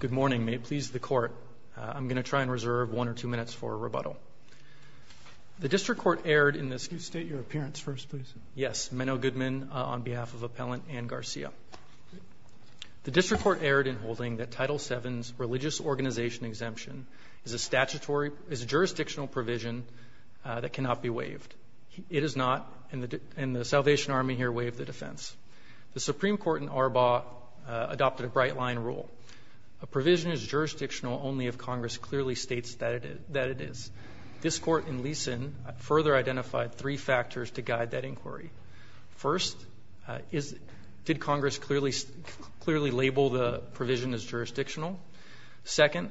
Good morning. May it please the Court, I'm going to try and reserve one or two minutes for a rebuttal. The District Court erred in holding that Title VII's religious organization exemption is a jurisdictional provision that cannot be waived. It is not, and the Salvation Army here waived the defense. The Supreme Court in Arbaugh adopted a bright line rule. A provision is jurisdictional only if Congress clearly states that it is. This Court in Leeson further identified three factors to guide that inquiry. First, did Congress clearly label the provision as jurisdictional? Second,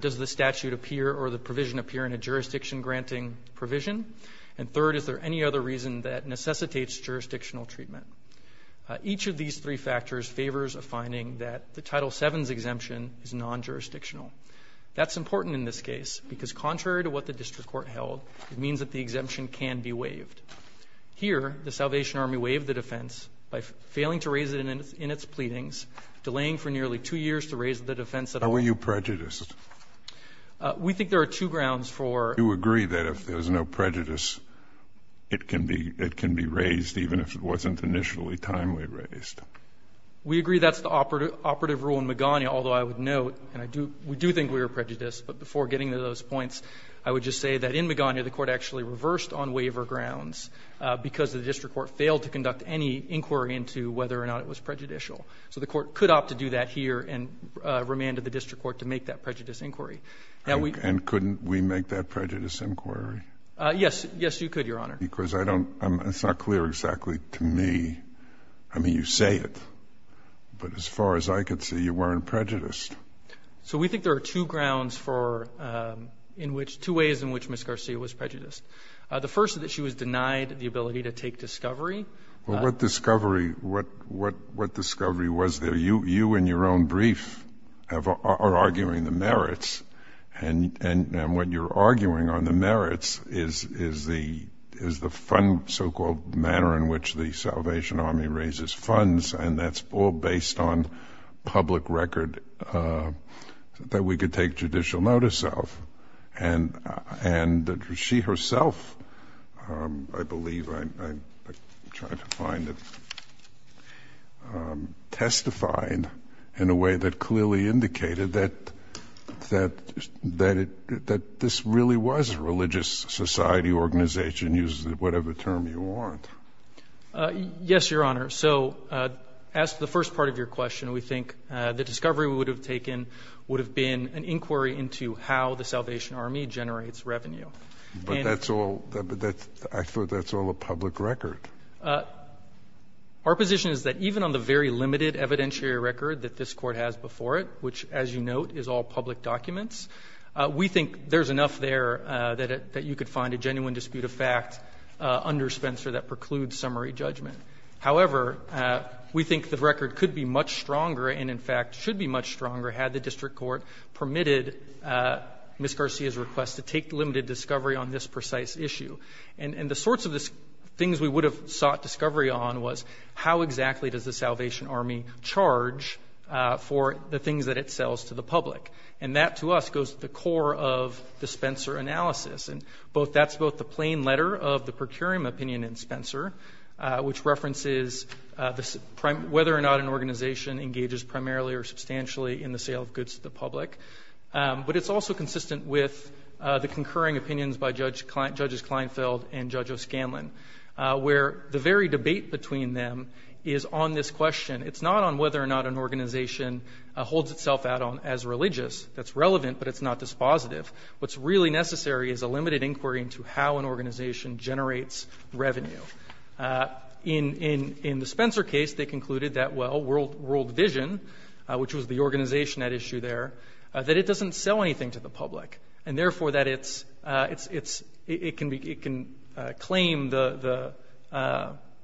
does the statute appear or the provision appear in a jurisdiction-granting provision? And third, is there any other reason that necessitates jurisdictional treatment? Each of these three factors favors a finding that the Title VII's exemption is non-jurisdictional. That's important in this case because contrary to what the District Court held, it means that the exemption can be waived. Here, the Salvation Army waived the defense by failing to raise it in its pleadings, delaying for nearly two years to raise the defense at all. Why were you prejudiced? We think there are two grounds for that. Do you agree that if there's no prejudice, it can be raised even if it wasn't initially timely raised? We agree that's the operative rule in Magana, although I would note, and we do think we were prejudiced, but before getting to those points, I would just say that in Magana, the Court actually reversed on waiver grounds because the District Court failed to conduct any inquiry into whether or not it was prejudicial. So the Court could opt to do that here and remanded the District Court to make that prejudice inquiry. And couldn't we make that prejudice inquiry? Yes. Yes, you could, Your Honor. Because it's not clear exactly to me. I mean, you say it, but as far as I can see, you weren't prejudiced. So we think there are two ways in which Ms. Garcia was prejudiced. The first is that she was denied the ability to take discovery. Well, what discovery was there? You, in your own brief, are arguing the merits. And what you're arguing on the merits is the so-called manner in which the Salvation Army raises funds, and that's all based on public record that we could take judicial notice of. And that she herself, I believe, I'm trying to find it, testified in a way that clearly indicated that this really was a religious society organization, use whatever term you want. Yes, Your Honor. So as to the first part of your question, we think the discovery we would have taken would have been an inquiry into how the Salvation Army generates revenue. But that's all, I thought that's all a public record. Our position is that even on the very limited evidentiary record that this Court has before it, which, as you note, is all public documents, we think there's enough there that you could find a genuine dispute of fact under Spencer that precludes summary judgment. However, we think the record could be much stronger and, in fact, should be much stronger had the district court permitted Ms. Garcia's request to take limited discovery on this precise issue. And the sorts of things we would have sought discovery on was how exactly does the Salvation Army charge for the things that it sells to the public? And that, to us, goes to the core of the Spencer analysis. And that's both the plain letter of the procuring opinion in Spencer, which references whether or not an organization engages primarily or substantially in the sale of goods to the public, but it's also consistent with the concurring opinions by Judges Kleinfeld and Judge O'Scanlan, where the very debate between them is on this question. It's not on whether or not an organization holds itself out as religious. That's relevant, but it's not dispositive. What's really necessary is a limited inquiry into how an organization generates revenue. In the Spencer case, they concluded that, well, World Vision, which was the organization at issue there, that it doesn't sell anything to the public and, therefore, that it can claim the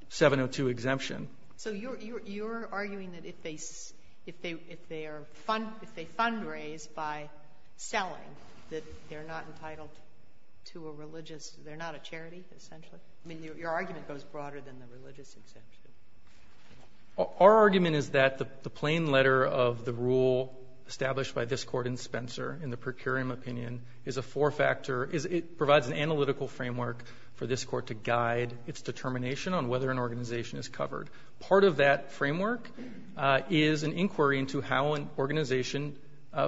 702 exemption. So you're arguing that if they fundraise by selling, that they're not entitled to a religious – they're not a charity, essentially? I mean, your argument goes broader than the religious exemption. Our argument is that the plain letter of the rule established by this Court in Spencer in the procuring opinion is a four-factor – it provides an analytical framework for this Court to guide its determination on whether an organization is covered. Part of that framework is an inquiry into how an organization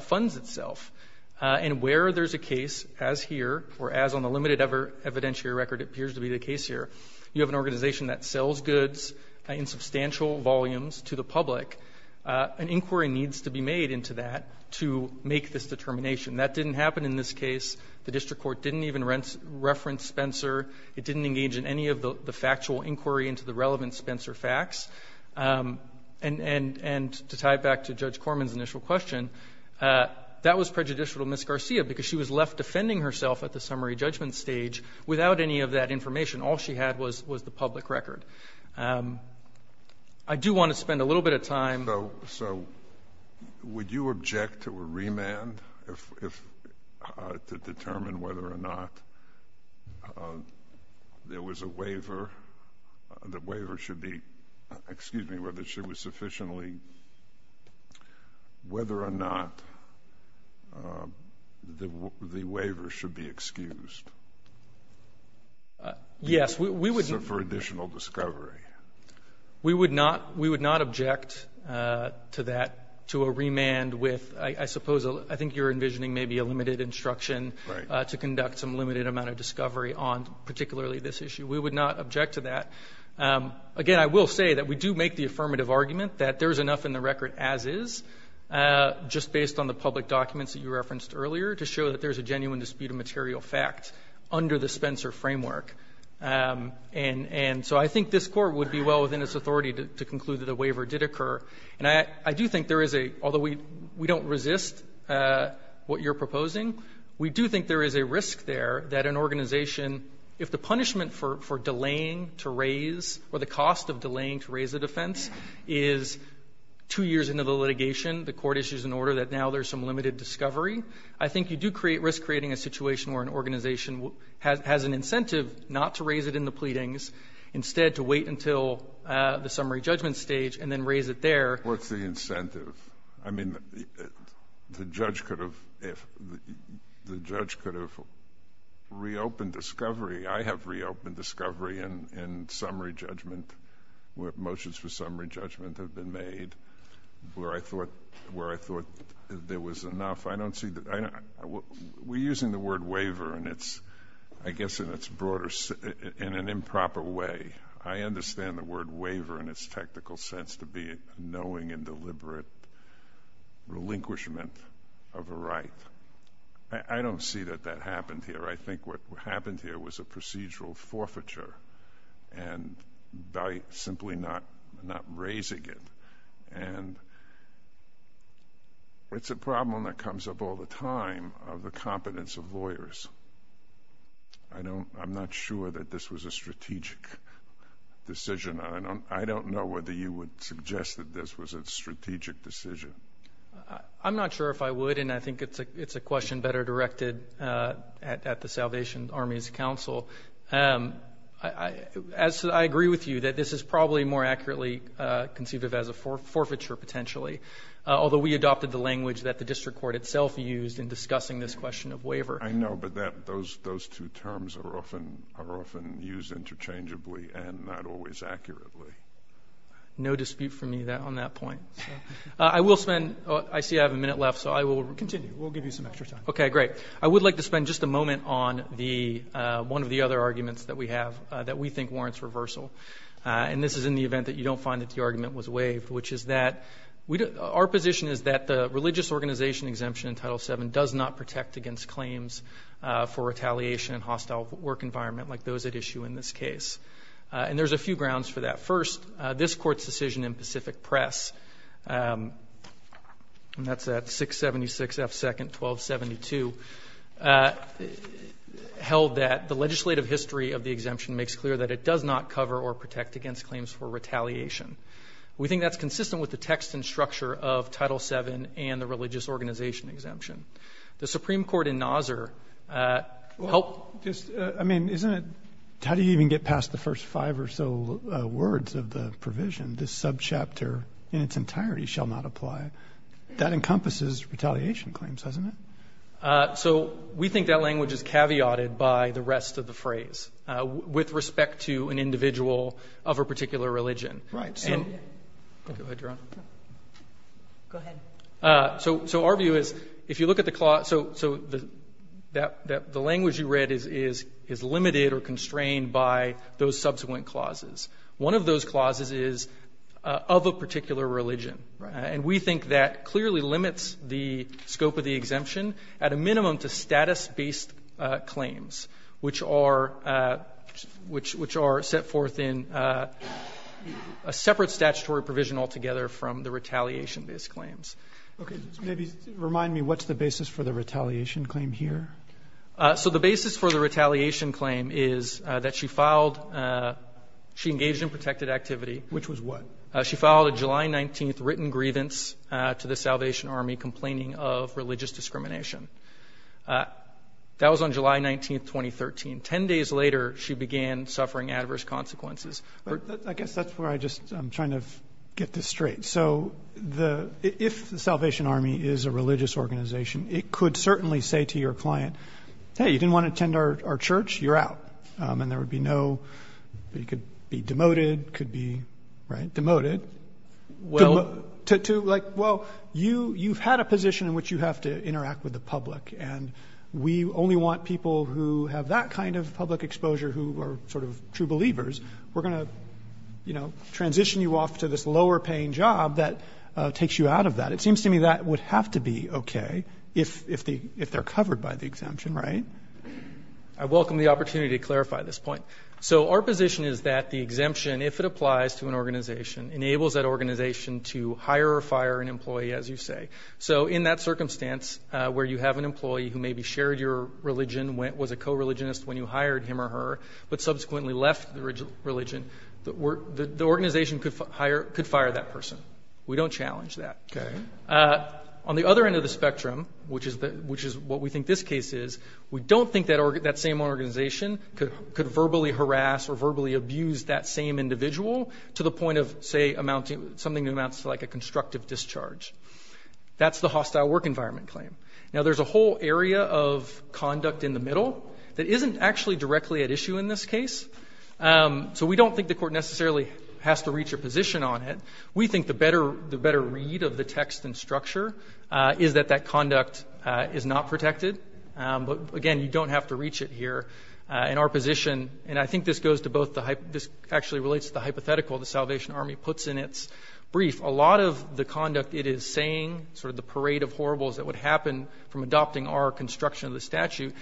funds itself. And where there's a case, as here, or as on the limited evidentiary record appears to be the case here, you have an organization that sells goods in substantial volumes to the public. An inquiry needs to be made into that to make this determination. That didn't happen in this case. The district court didn't even reference Spencer. It didn't engage in any of the factual inquiry into the relevant Spencer facts. And to tie it back to Judge Corman's initial question, that was prejudicial to Ms. Garcia because she was left defending herself at the summary judgment stage without any of that information. All she had was the public record. I do want to spend a little bit of time –– to determine whether or not there was a waiver. The waiver should be – excuse me – whether it should be sufficiently – whether or not the waiver should be excused. Yes, we would – For additional discovery. We would not – we would not object to that – to a remand with, I suppose, I think you're to conduct some limited amount of discovery on particularly this issue. We would not object to that. Again, I will say that we do make the affirmative argument that there is enough in the record as is just based on the public documents that you referenced earlier to show that there is a genuine dispute of material fact under the Spencer framework. And so I think this Court would be well within its authority to conclude that a waiver did occur. And I do think there is a – although we don't resist what you're proposing, we do think there is a risk there that an organization – if the punishment for delaying to raise or the cost of delaying to raise a defense is two years into the litigation, the Court issues an order that now there's some limited discovery, I think you do create – risk creating a situation where an organization has an incentive not to raise it in the pleadings, instead to wait until the summary judgment stage and then raise it there. In fact, what's the incentive? I mean, the judge could have reopened discovery. I have reopened discovery in summary judgment where motions for summary judgment have been made, where I thought there was enough. I don't see – we're using the word waiver in its – I guess in its broader – in an improper way. I understand the word waiver in its technical sense to be knowing and deliberate relinquishment of a right. I don't see that that happened here. I think what happened here was a procedural forfeiture and by simply not raising it. And it's a problem that comes up all the time of the I don't know whether you would suggest that this was a strategic decision. I'm not sure if I would, and I think it's a question better directed at the Salvation Army's counsel. As I agree with you, that this is probably more accurately conceived of as a forfeiture potentially, although we adopted the language that the district court itself used in discussing this question of waiver. I know, but those two terms are often used interchangeably and not always accurately. No dispute for me on that point. I will spend – I see I have a minute left, so I will continue. We'll give you some extra time. Okay, great. I would like to spend just a moment on the – one of the other arguments that we have that we think warrants reversal. And this is in the event that you don't find that the argument was waived, which is that our position is that the religious organization exemption in Title VII does not protect against claims for retaliation and hostile work environment like those at issue in this case. And there's a few grounds for that. First, this Court's decision in Pacific Press, and that's at 676 F. 2nd, 1272, held that the legislative history of the exemption makes clear that it does not cover or protect against claims for retaliation. We think that's consistent with the text and structure of the religious organization exemption. The Supreme Court in Nauzer – Well, just – I mean, isn't it – how do you even get past the first five or so words of the provision? This subchapter in its entirety shall not apply. That encompasses retaliation claims, hasn't it? So, we think that language is caveated by the rest of the phrase with respect to an individual of a particular religion. Right. Go ahead, Your Honor. Go ahead. So, our view is, if you look at the – so, the language you read is limited or constrained by those subsequent clauses. One of those clauses is of a particular religion. Right. And we think that clearly limits the scope of the exemption at a minimum to status-based claims, which are – which are set forth in a separate statutory provision altogether from the retaliation-based claims. Okay. Maybe remind me, what's the basis for the retaliation claim here? So, the basis for the retaliation claim is that she filed – she engaged in protected activity. Which was what? She filed a July 19th written grievance to the Salvation Army complaining of religious discrimination. That was on July 19th, 2013. Ten days later, she began suffering adverse consequences. I guess that's where I just – I'm trying to get this straight. So, the – if the Salvation Army is a religious organization, it could certainly say to your client, hey, you didn't want to attend our church? You're out. And there would be no – it could be demoted, could be, right, demoted. Well – To, like, well, you've had a position in which you have to interact with the public. And we only want people who have that kind of public exposure who are sort of true believers. We're going to, you know, transition you off to this lower-paying job that takes you out of that. It seems to me that would have to be okay if the – if they're covered by the exemption, right? I welcome the opportunity to clarify this point. So, our position is that the exemption, if it applies to an organization, enables that organization to hire or fire an employee, as you say. So, in that circumstance where you have an employee who maybe shared your religion, was a co-religionist when you hired him or her, but subsequently left the religion, the organization could fire that person. We don't challenge that. Okay. On the other end of the spectrum, which is what we think this case is, we don't think that same organization could verbally harass or verbally abuse that same individual to the point of, say, amounting – something that amounts to, like, a constructive discharge. That's the hostile work environment claim. Now, there's a whole area of conduct in the middle that isn't actually directly at issue in this case. So, we don't think the court necessarily has to reach a position on it. We think the better read of the text and structure is that that conduct is not protected. But, again, you don't have to reach it here. In our position – and I think this goes to both the – this actually relates to the hypothetical the Salvation Army puts in its brief. A lot of the conduct it is saying, sort of the parade of horribles that would happen from adopting our construction of the statute,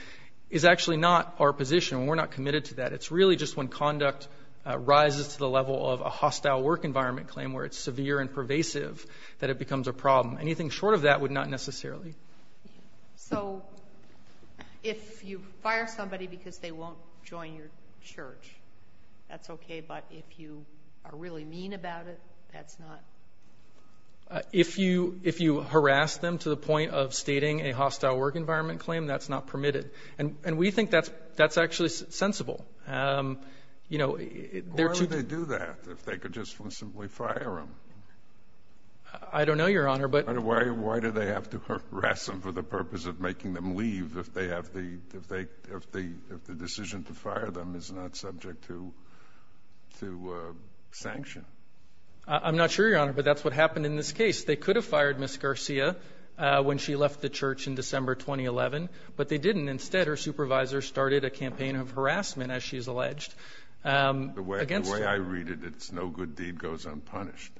is actually not our position. We're not committed to that. It's really just when conduct rises to the level of a hostile work environment claim where it's severe and pervasive that it becomes a problem. Anything short of that would not necessarily. So, if you fire somebody because they won't join your church, that's okay. But, if you are really mean about it, that's not. If you harass them to the point of stating a hostile work environment claim, that's not permitted. And we think that's actually sensible. Why would they do that if they could just simply fire them? I don't know, Your Honor. Why do they have to harass them for the purpose of making them leave if the decision to fire them is not subject to sanction? I'm not sure, Your Honor, but that's what happened in this case. They could have fired Ms. Garcia when she left the church in December 2011, but they didn't. Instead, her supervisor started a campaign of harassment, as she's alleged. The way I read it, it's no good deed goes unpunished.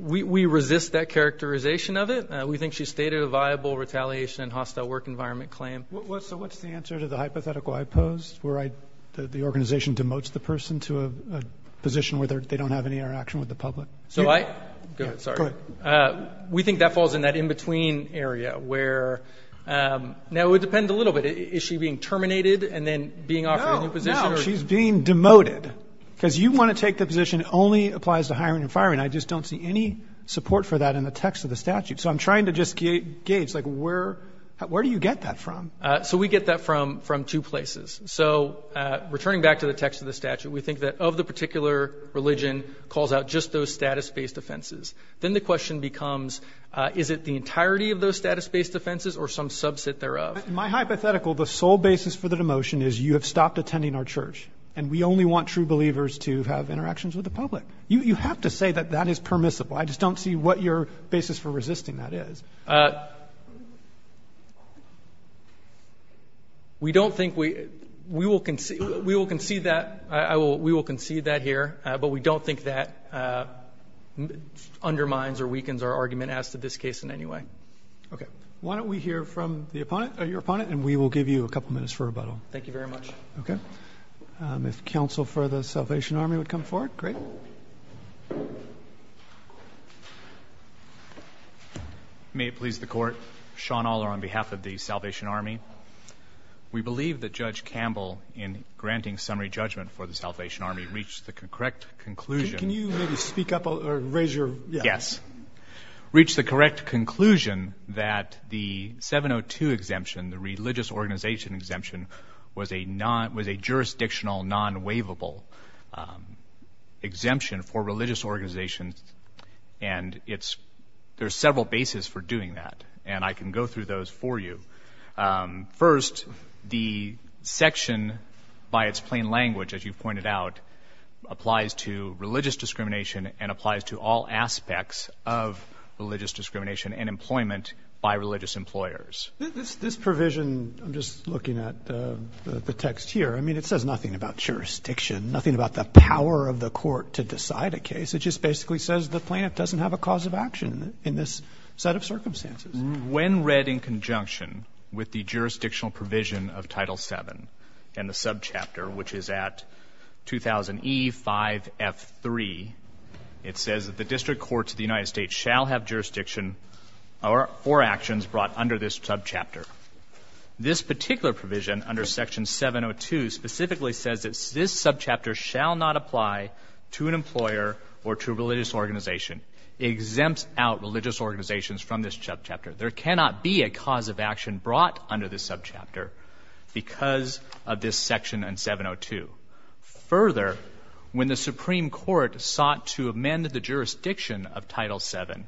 We resist that characterization of it. We think she stated a viable retaliation hostile work environment claim. So what's the answer to the hypothetical I posed, where the organization demotes the person to a position where they don't have any interaction with the public? Go ahead. We think that falls in that in-between area. Now, it would depend a little bit. Is she being terminated and then being offered a new position? No, no. She's being demoted. Because you want to take the position it only applies to hiring and firing. I just don't see any support for that in the text of the statute. So I'm trying to just gauge, like, where do you get that from? So we get that from two places. So returning back to the text of the statute, we think that of the particular religion calls out just those status-based offenses. Then the question becomes, is it the entirety of those status-based offenses or some subset thereof? My hypothetical, the sole basis for the demotion is you have stopped attending our church, and we only want true believers to have interactions with the public. You have to say that that is permissible. I just don't see what your basis for resisting that is. We don't think we will concede that. We will concede that here. But we don't think that undermines or weakens our argument as to this case in any way. Okay. Why don't we hear from your opponent, and we will give you a couple minutes for rebuttal. Thank you very much. Okay. If counsel for the Salvation Army would come forward. Great. May it please the Court. Sean Aller on behalf of the Salvation Army. We believe that Judge Campbell, in granting summary judgment for the Salvation Army, reached the correct conclusion. Can you maybe speak up or raise your? Yes. Reached the correct conclusion that the 702 exemption, the religious organization exemption, was a jurisdictional non-waivable exemption for religious organizations. And there are several bases for doing that. And I can go through those for you. First, the section by its plain language, as you pointed out, applies to religious discrimination and applies to all aspects of religious discrimination and employment by religious employers. This provision, I'm just looking at the text here, I mean it says nothing about jurisdiction, nothing about the power of the court to decide a case. It just basically says the plaintiff doesn't have a cause of action in this set of circumstances. When read in conjunction with the jurisdictional provision of Title VII and the subchapter, which is at 2000E5F3, it says that the district courts of the United States shall have jurisdiction or actions brought under this subchapter. This particular provision under Section 702 specifically says that this subchapter shall not apply to an employer or to a religious organization. It exempts out religious organizations from this subchapter. There cannot be a cause of action brought under this subchapter because of this section in 702. Further, when the Supreme Court sought to amend the jurisdiction of Title VII,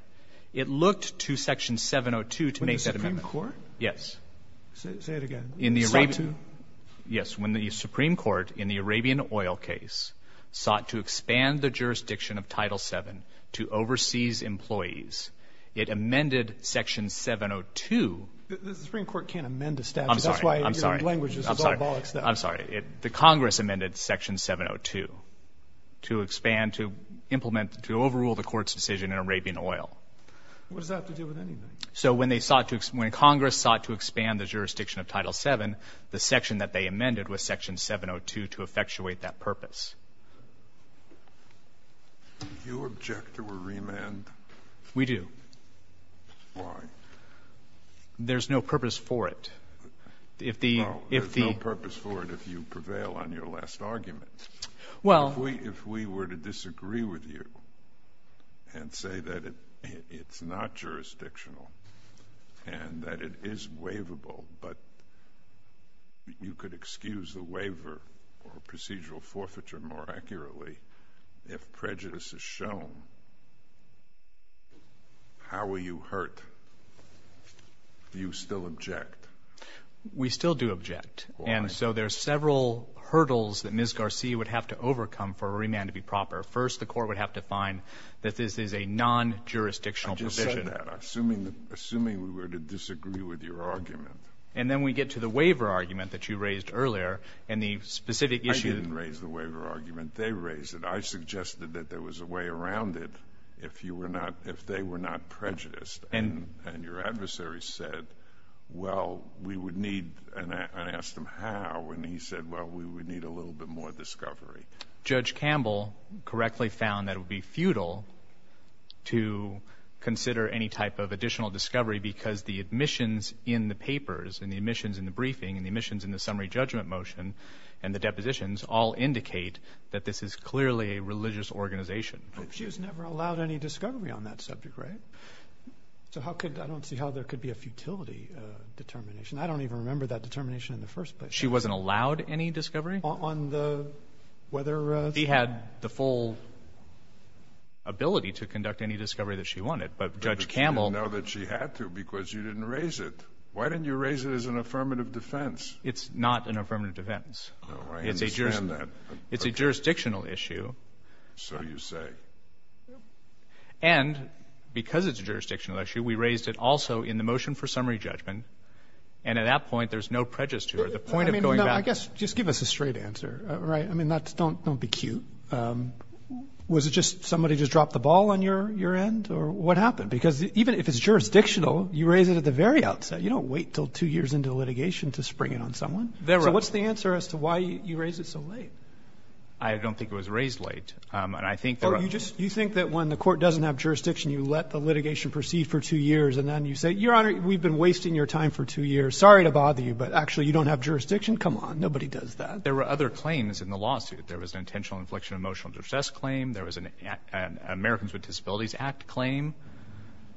it looked to Section 702 to make that amendment. When the Supreme Court? Yes. Say it again. Yes. When the Supreme Court in the Arabian oil case sought to expand the jurisdiction of Title VII to overseas employees, it amended Section 702. The Supreme Court can't amend a statute. I'm sorry. I'm sorry. I'm sorry. The Congress amended Section 702 to expand, to implement, to overrule the Court's decision in Arabian oil. What does that have to do with anything? So when they sought to, when Congress sought to expand the jurisdiction of Title VII, the section that they amended was Section 702 to effectuate that purpose. Do you object to a remand? We do. Why? There's no purpose for it. No, there's no purpose for it if you prevail on your last argument. Well. If we were to disagree with you and say that it's not jurisdictional and that it is waivable, but you could excuse the waiver or procedural forfeiture more accurately if prejudice is shown, how will you hurt? Do you still object? We still do object. Why? So there's several hurdles that Ms. Garcia would have to overcome for a remand to be proper. First, the Court would have to find that this is a non-jurisdictional provision. I just said that, assuming we were to disagree with your argument. And then we get to the waiver argument that you raised earlier and the specific issue. I didn't raise the waiver argument. They raised it. I suggested that there was a way around it if you were not, if they were not prejudiced. And your adversary said, well, we would need, and I asked him how, and he said, well, we would need a little bit more discovery. Judge Campbell correctly found that it would be futile to consider any type of additional discovery because the admissions in the papers and the admissions in the briefing and the admissions in the summary judgment motion and the depositions all indicate that this is clearly a religious organization. But she was never allowed any discovery on that subject, right? So how could, I don't see how there could be a futility determination. I don't even remember that determination in the first place. She wasn't allowed any discovery? On the, whether... She had the full ability to conduct any discovery that she wanted, but Judge Campbell... But you didn't know that she had to because you didn't raise it. Why didn't you raise it as an affirmative defense? It's not an affirmative defense. No, I understand that. It's a jurisdictional issue. So you say. And because it's a jurisdictional issue, we raised it also in the motion for summary judgment, and at that point there's no prejudice to her. The point of going back... I guess, just give us a straight answer, right? I mean, don't be cute. Was it just somebody just dropped the ball on your end, or what happened? Because even if it's jurisdictional, you raise it at the very outset. You don't wait until two years into litigation to spring it on someone. So what's the answer as to why you raised it so late? I don't think it was raised late. You think that when the court doesn't have jurisdiction, you let the litigation proceed for two years, and then you say, Your Honor, we've been wasting your time for two years. Sorry to bother you, but actually you don't have jurisdiction? Come on. Nobody does that. There were other claims in the lawsuit. There was an intentional infliction of emotional distress claim. There was an Americans with Disabilities Act claim.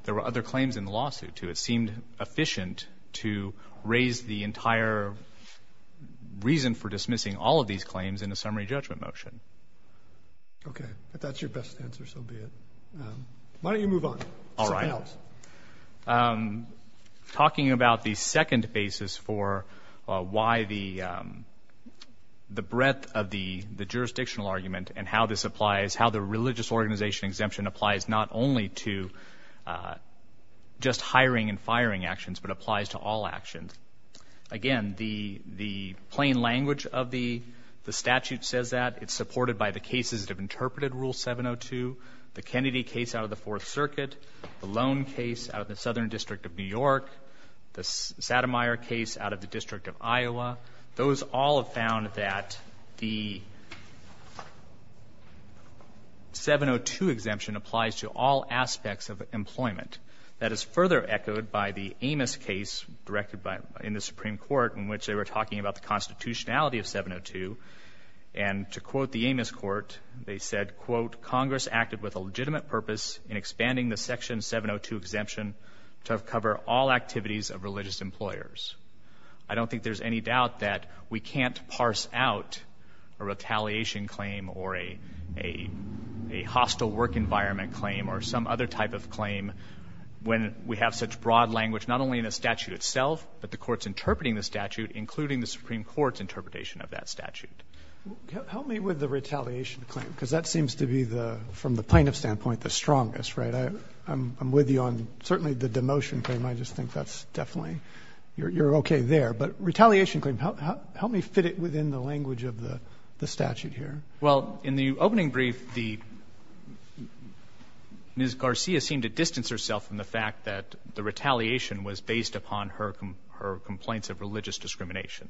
There were other claims in the lawsuit, too. It seemed efficient to raise the entire reason for dismissing all of these claims in a summary judgment motion. Okay. If that's your best answer, so be it. Why don't you move on? All right. Something else. Talking about the second basis for why the breadth of the jurisdictional argument and how this applies, how the religious organization exemption applies, not only to just hiring and firing actions, but applies to all actions. Again, the plain language of the statute says that. It's supported by the cases that have interpreted Rule 702, the Kennedy case out of the Fourth Circuit, the Lone case out of the Southern District of New York, the Sattermeyer case out of the District of Iowa. Those all have found that the 702 exemption applies to all aspects of employment. That is further echoed by the Amos case directed in the Supreme Court in which they were talking about the constitutionality of 702. And to quote the Amos court, they said, quote, Congress acted with a legitimate purpose in expanding the Section 702 exemption to cover all activities of religious employers. I don't think there's any doubt that we can't parse out a retaliation claim or a hostile work environment claim or some other type of claim when we have such broad language not only in the statute itself, but the courts interpreting the statute, including the Supreme Court's interpretation of that statute. Help me with the retaliation claim, because that seems to be, from the plaintiff's standpoint, the strongest. I'm with you on certainly the demotion claim. I just think that's definitely you're okay there. But retaliation claim, help me fit it within the language of the statute here. Well, in the opening brief, Ms. Garcia seemed to distance herself from the fact that the retaliation was based upon her complaints of religious discrimination.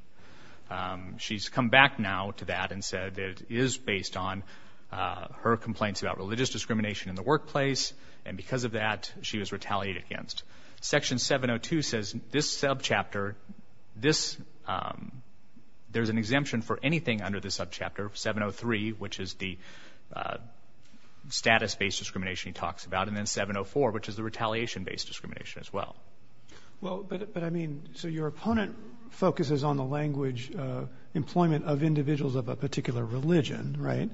She's come back now to that and said it is based on her complaints about religious discrimination in the workplace, and because of that she was retaliated against. Section 702 says this subchapter, this, there's an exemption for anything under the subchapter 703, which is the status-based discrimination he talks about, and then 704, which is the retaliation-based discrimination as well. Well, but I mean, so your opponent focuses on the language employment of individuals of a particular religion, right,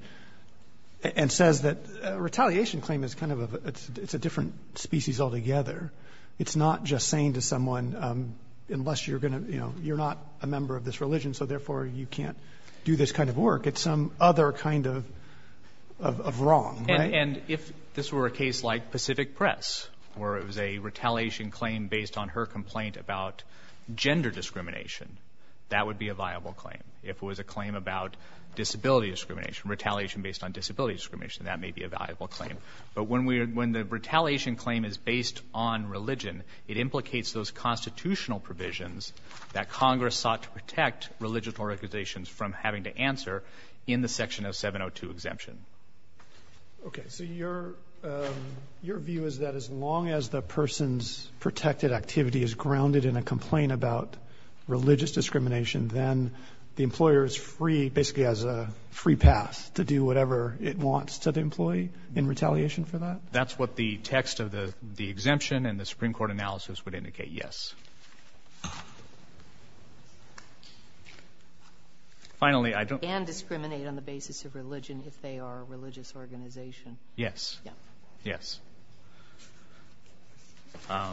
and says that retaliation claim is kind of a different species altogether. It's not just saying to someone, unless you're going to, you know, you're not a member of this religion, so therefore you can't do this kind of work. It's some other kind of wrong, right? And if this were a case like Pacific Press, where it was a retaliation claim based on her complaint about gender discrimination, that would be a viable claim. If it was a claim about disability discrimination, retaliation based on disability discrimination, that may be a valuable claim. But when the retaliation claim is based on religion, it implicates those constitutional provisions that Congress sought to protect religious organizations from having to answer in the section of 702 exemption. Okay, so your view is that as long as the person's protected activity is grounded in a complaint about religious discrimination, then the employer is free, basically has a free pass to do whatever it wants to the employee in retaliation for that? That's what the text of the exemption and the Supreme Court analysis would indicate, yes. Finally, I don't And discriminate on the basis of religion if they are a religious organization. Yes, yes. Okay.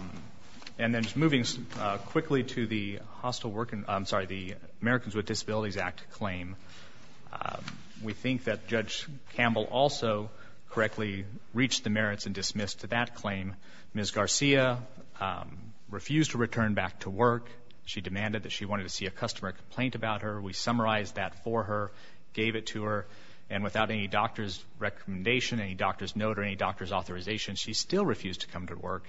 And then just moving quickly to the Americans with Disabilities Act claim, we think that Judge Campbell also correctly reached the merits and dismissed that claim. Ms. Garcia refused to return back to work. She demanded that she wanted to see a customer complaint about her. We summarized that for her, gave it to her, and without any doctor's recommendation, any doctor's note, or any doctor's authorization, she still refused to come to work.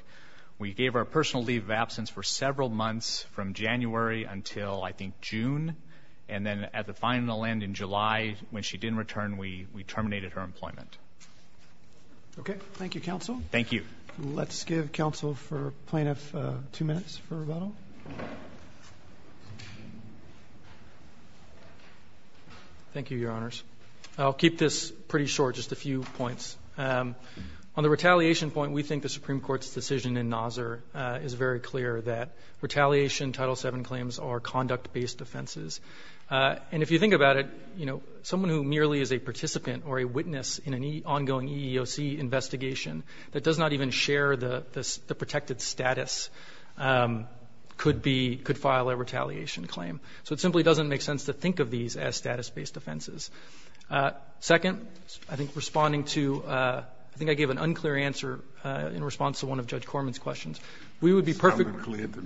We gave her a personal leave of absence for several months from January until, I think, June. And then at the final end in July, when she didn't return, we terminated her employment. Okay, thank you, counsel. Thank you. Let's give counsel for plaintiff two minutes for rebuttal. Thank you, Your Honors. I'll keep this pretty short, just a few points. On the retaliation point, we think the Supreme Court's decision in Nasr is very clear that retaliation Title VII claims are conduct-based offenses. And if you think about it, you know, someone who merely is a participant or a witness in an ongoing EEOC investigation that does not even share the protected status could file a retaliation claim. So it simply doesn't make sense to think of these as status-based offenses. Second, I think responding to ‑‑I think I gave an unclear answer in response to one of Judge Corman's questions. We would be perfectly ‑‑ It sounded clear to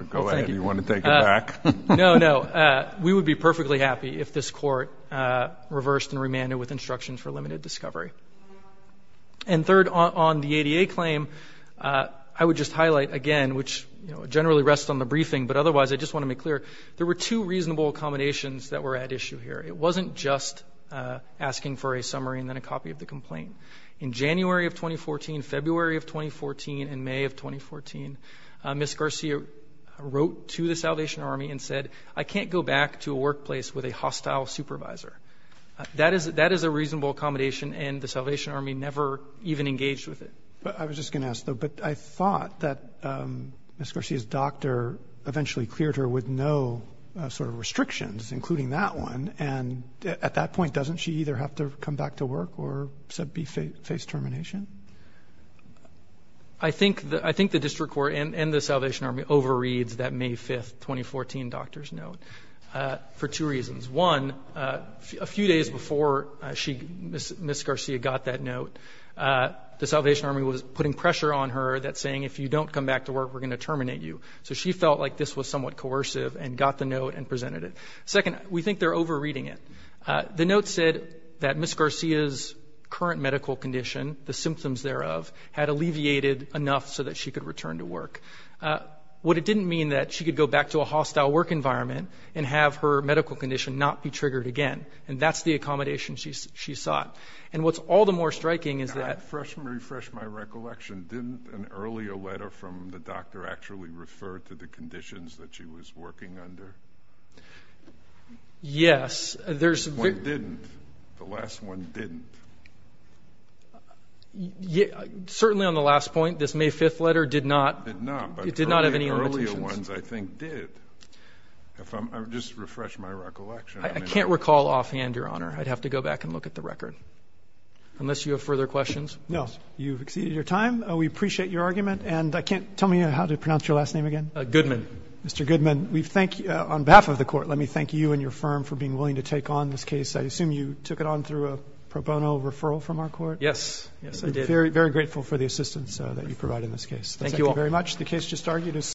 me. Go ahead. Do you want to take it back? No, no. We would be perfectly happy if this Court reversed and remanded with instructions for limited discovery. And third, on the ADA claim, I would just highlight again, which generally rests on the briefing, but otherwise I just want to make clear, there were two reasonable accommodations that were at issue here. It wasn't just asking for a summary and then a copy of the complaint. In January of 2014, February of 2014, and May of 2014, Ms. Garcia wrote to the Salvation Army and said, I can't go back to a workplace with a hostile supervisor. That is a reasonable accommodation, and the Salvation Army never even engaged with it. I was just going to ask, though. But I thought that Ms. Garcia's doctor eventually cleared her with no sort of restrictions, including that one. And at that point, doesn't she either have to come back to work or face termination? I think the district court and the Salvation Army overread that May 5, 2014 doctor's note for two reasons. One, a few days before Ms. Garcia got that note, the Salvation Army was putting pressure on her that saying, if you don't come back to work, we're going to terminate you. So she felt like this was somewhat coercive and got the note and presented it. Second, we think they're overreading it. The note said that Ms. Garcia's current medical condition, the symptoms thereof, had alleviated enough so that she could return to work. What it didn't mean that she could go back to a hostile work environment and have her medical condition not be triggered again. And that's the accommodation she sought. And what's all the more striking is that – Let me refresh my recollection. Didn't an earlier letter from the doctor actually refer to the conditions that she was working under? Yes. One didn't. The last one didn't. Certainly on the last point, this May 5 letter did not. Did not. It did not have any limitations. Earlier ones, I think, did. If I'm – just refresh my recollection. I can't recall offhand, Your Honor. I'd have to go back and look at the record. Unless you have further questions. No. You've exceeded your time. We appreciate your argument. And I can't – tell me how to pronounce your last name again. Goodman. Mr. Goodman, we thank you – on behalf of the Court, let me thank you and your firm for being willing to take on this case. I assume you took it on through a pro bono referral from our court? Yes. Yes, I did. Very grateful for the assistance that you provide in this case. Thank you all. The case just argued is –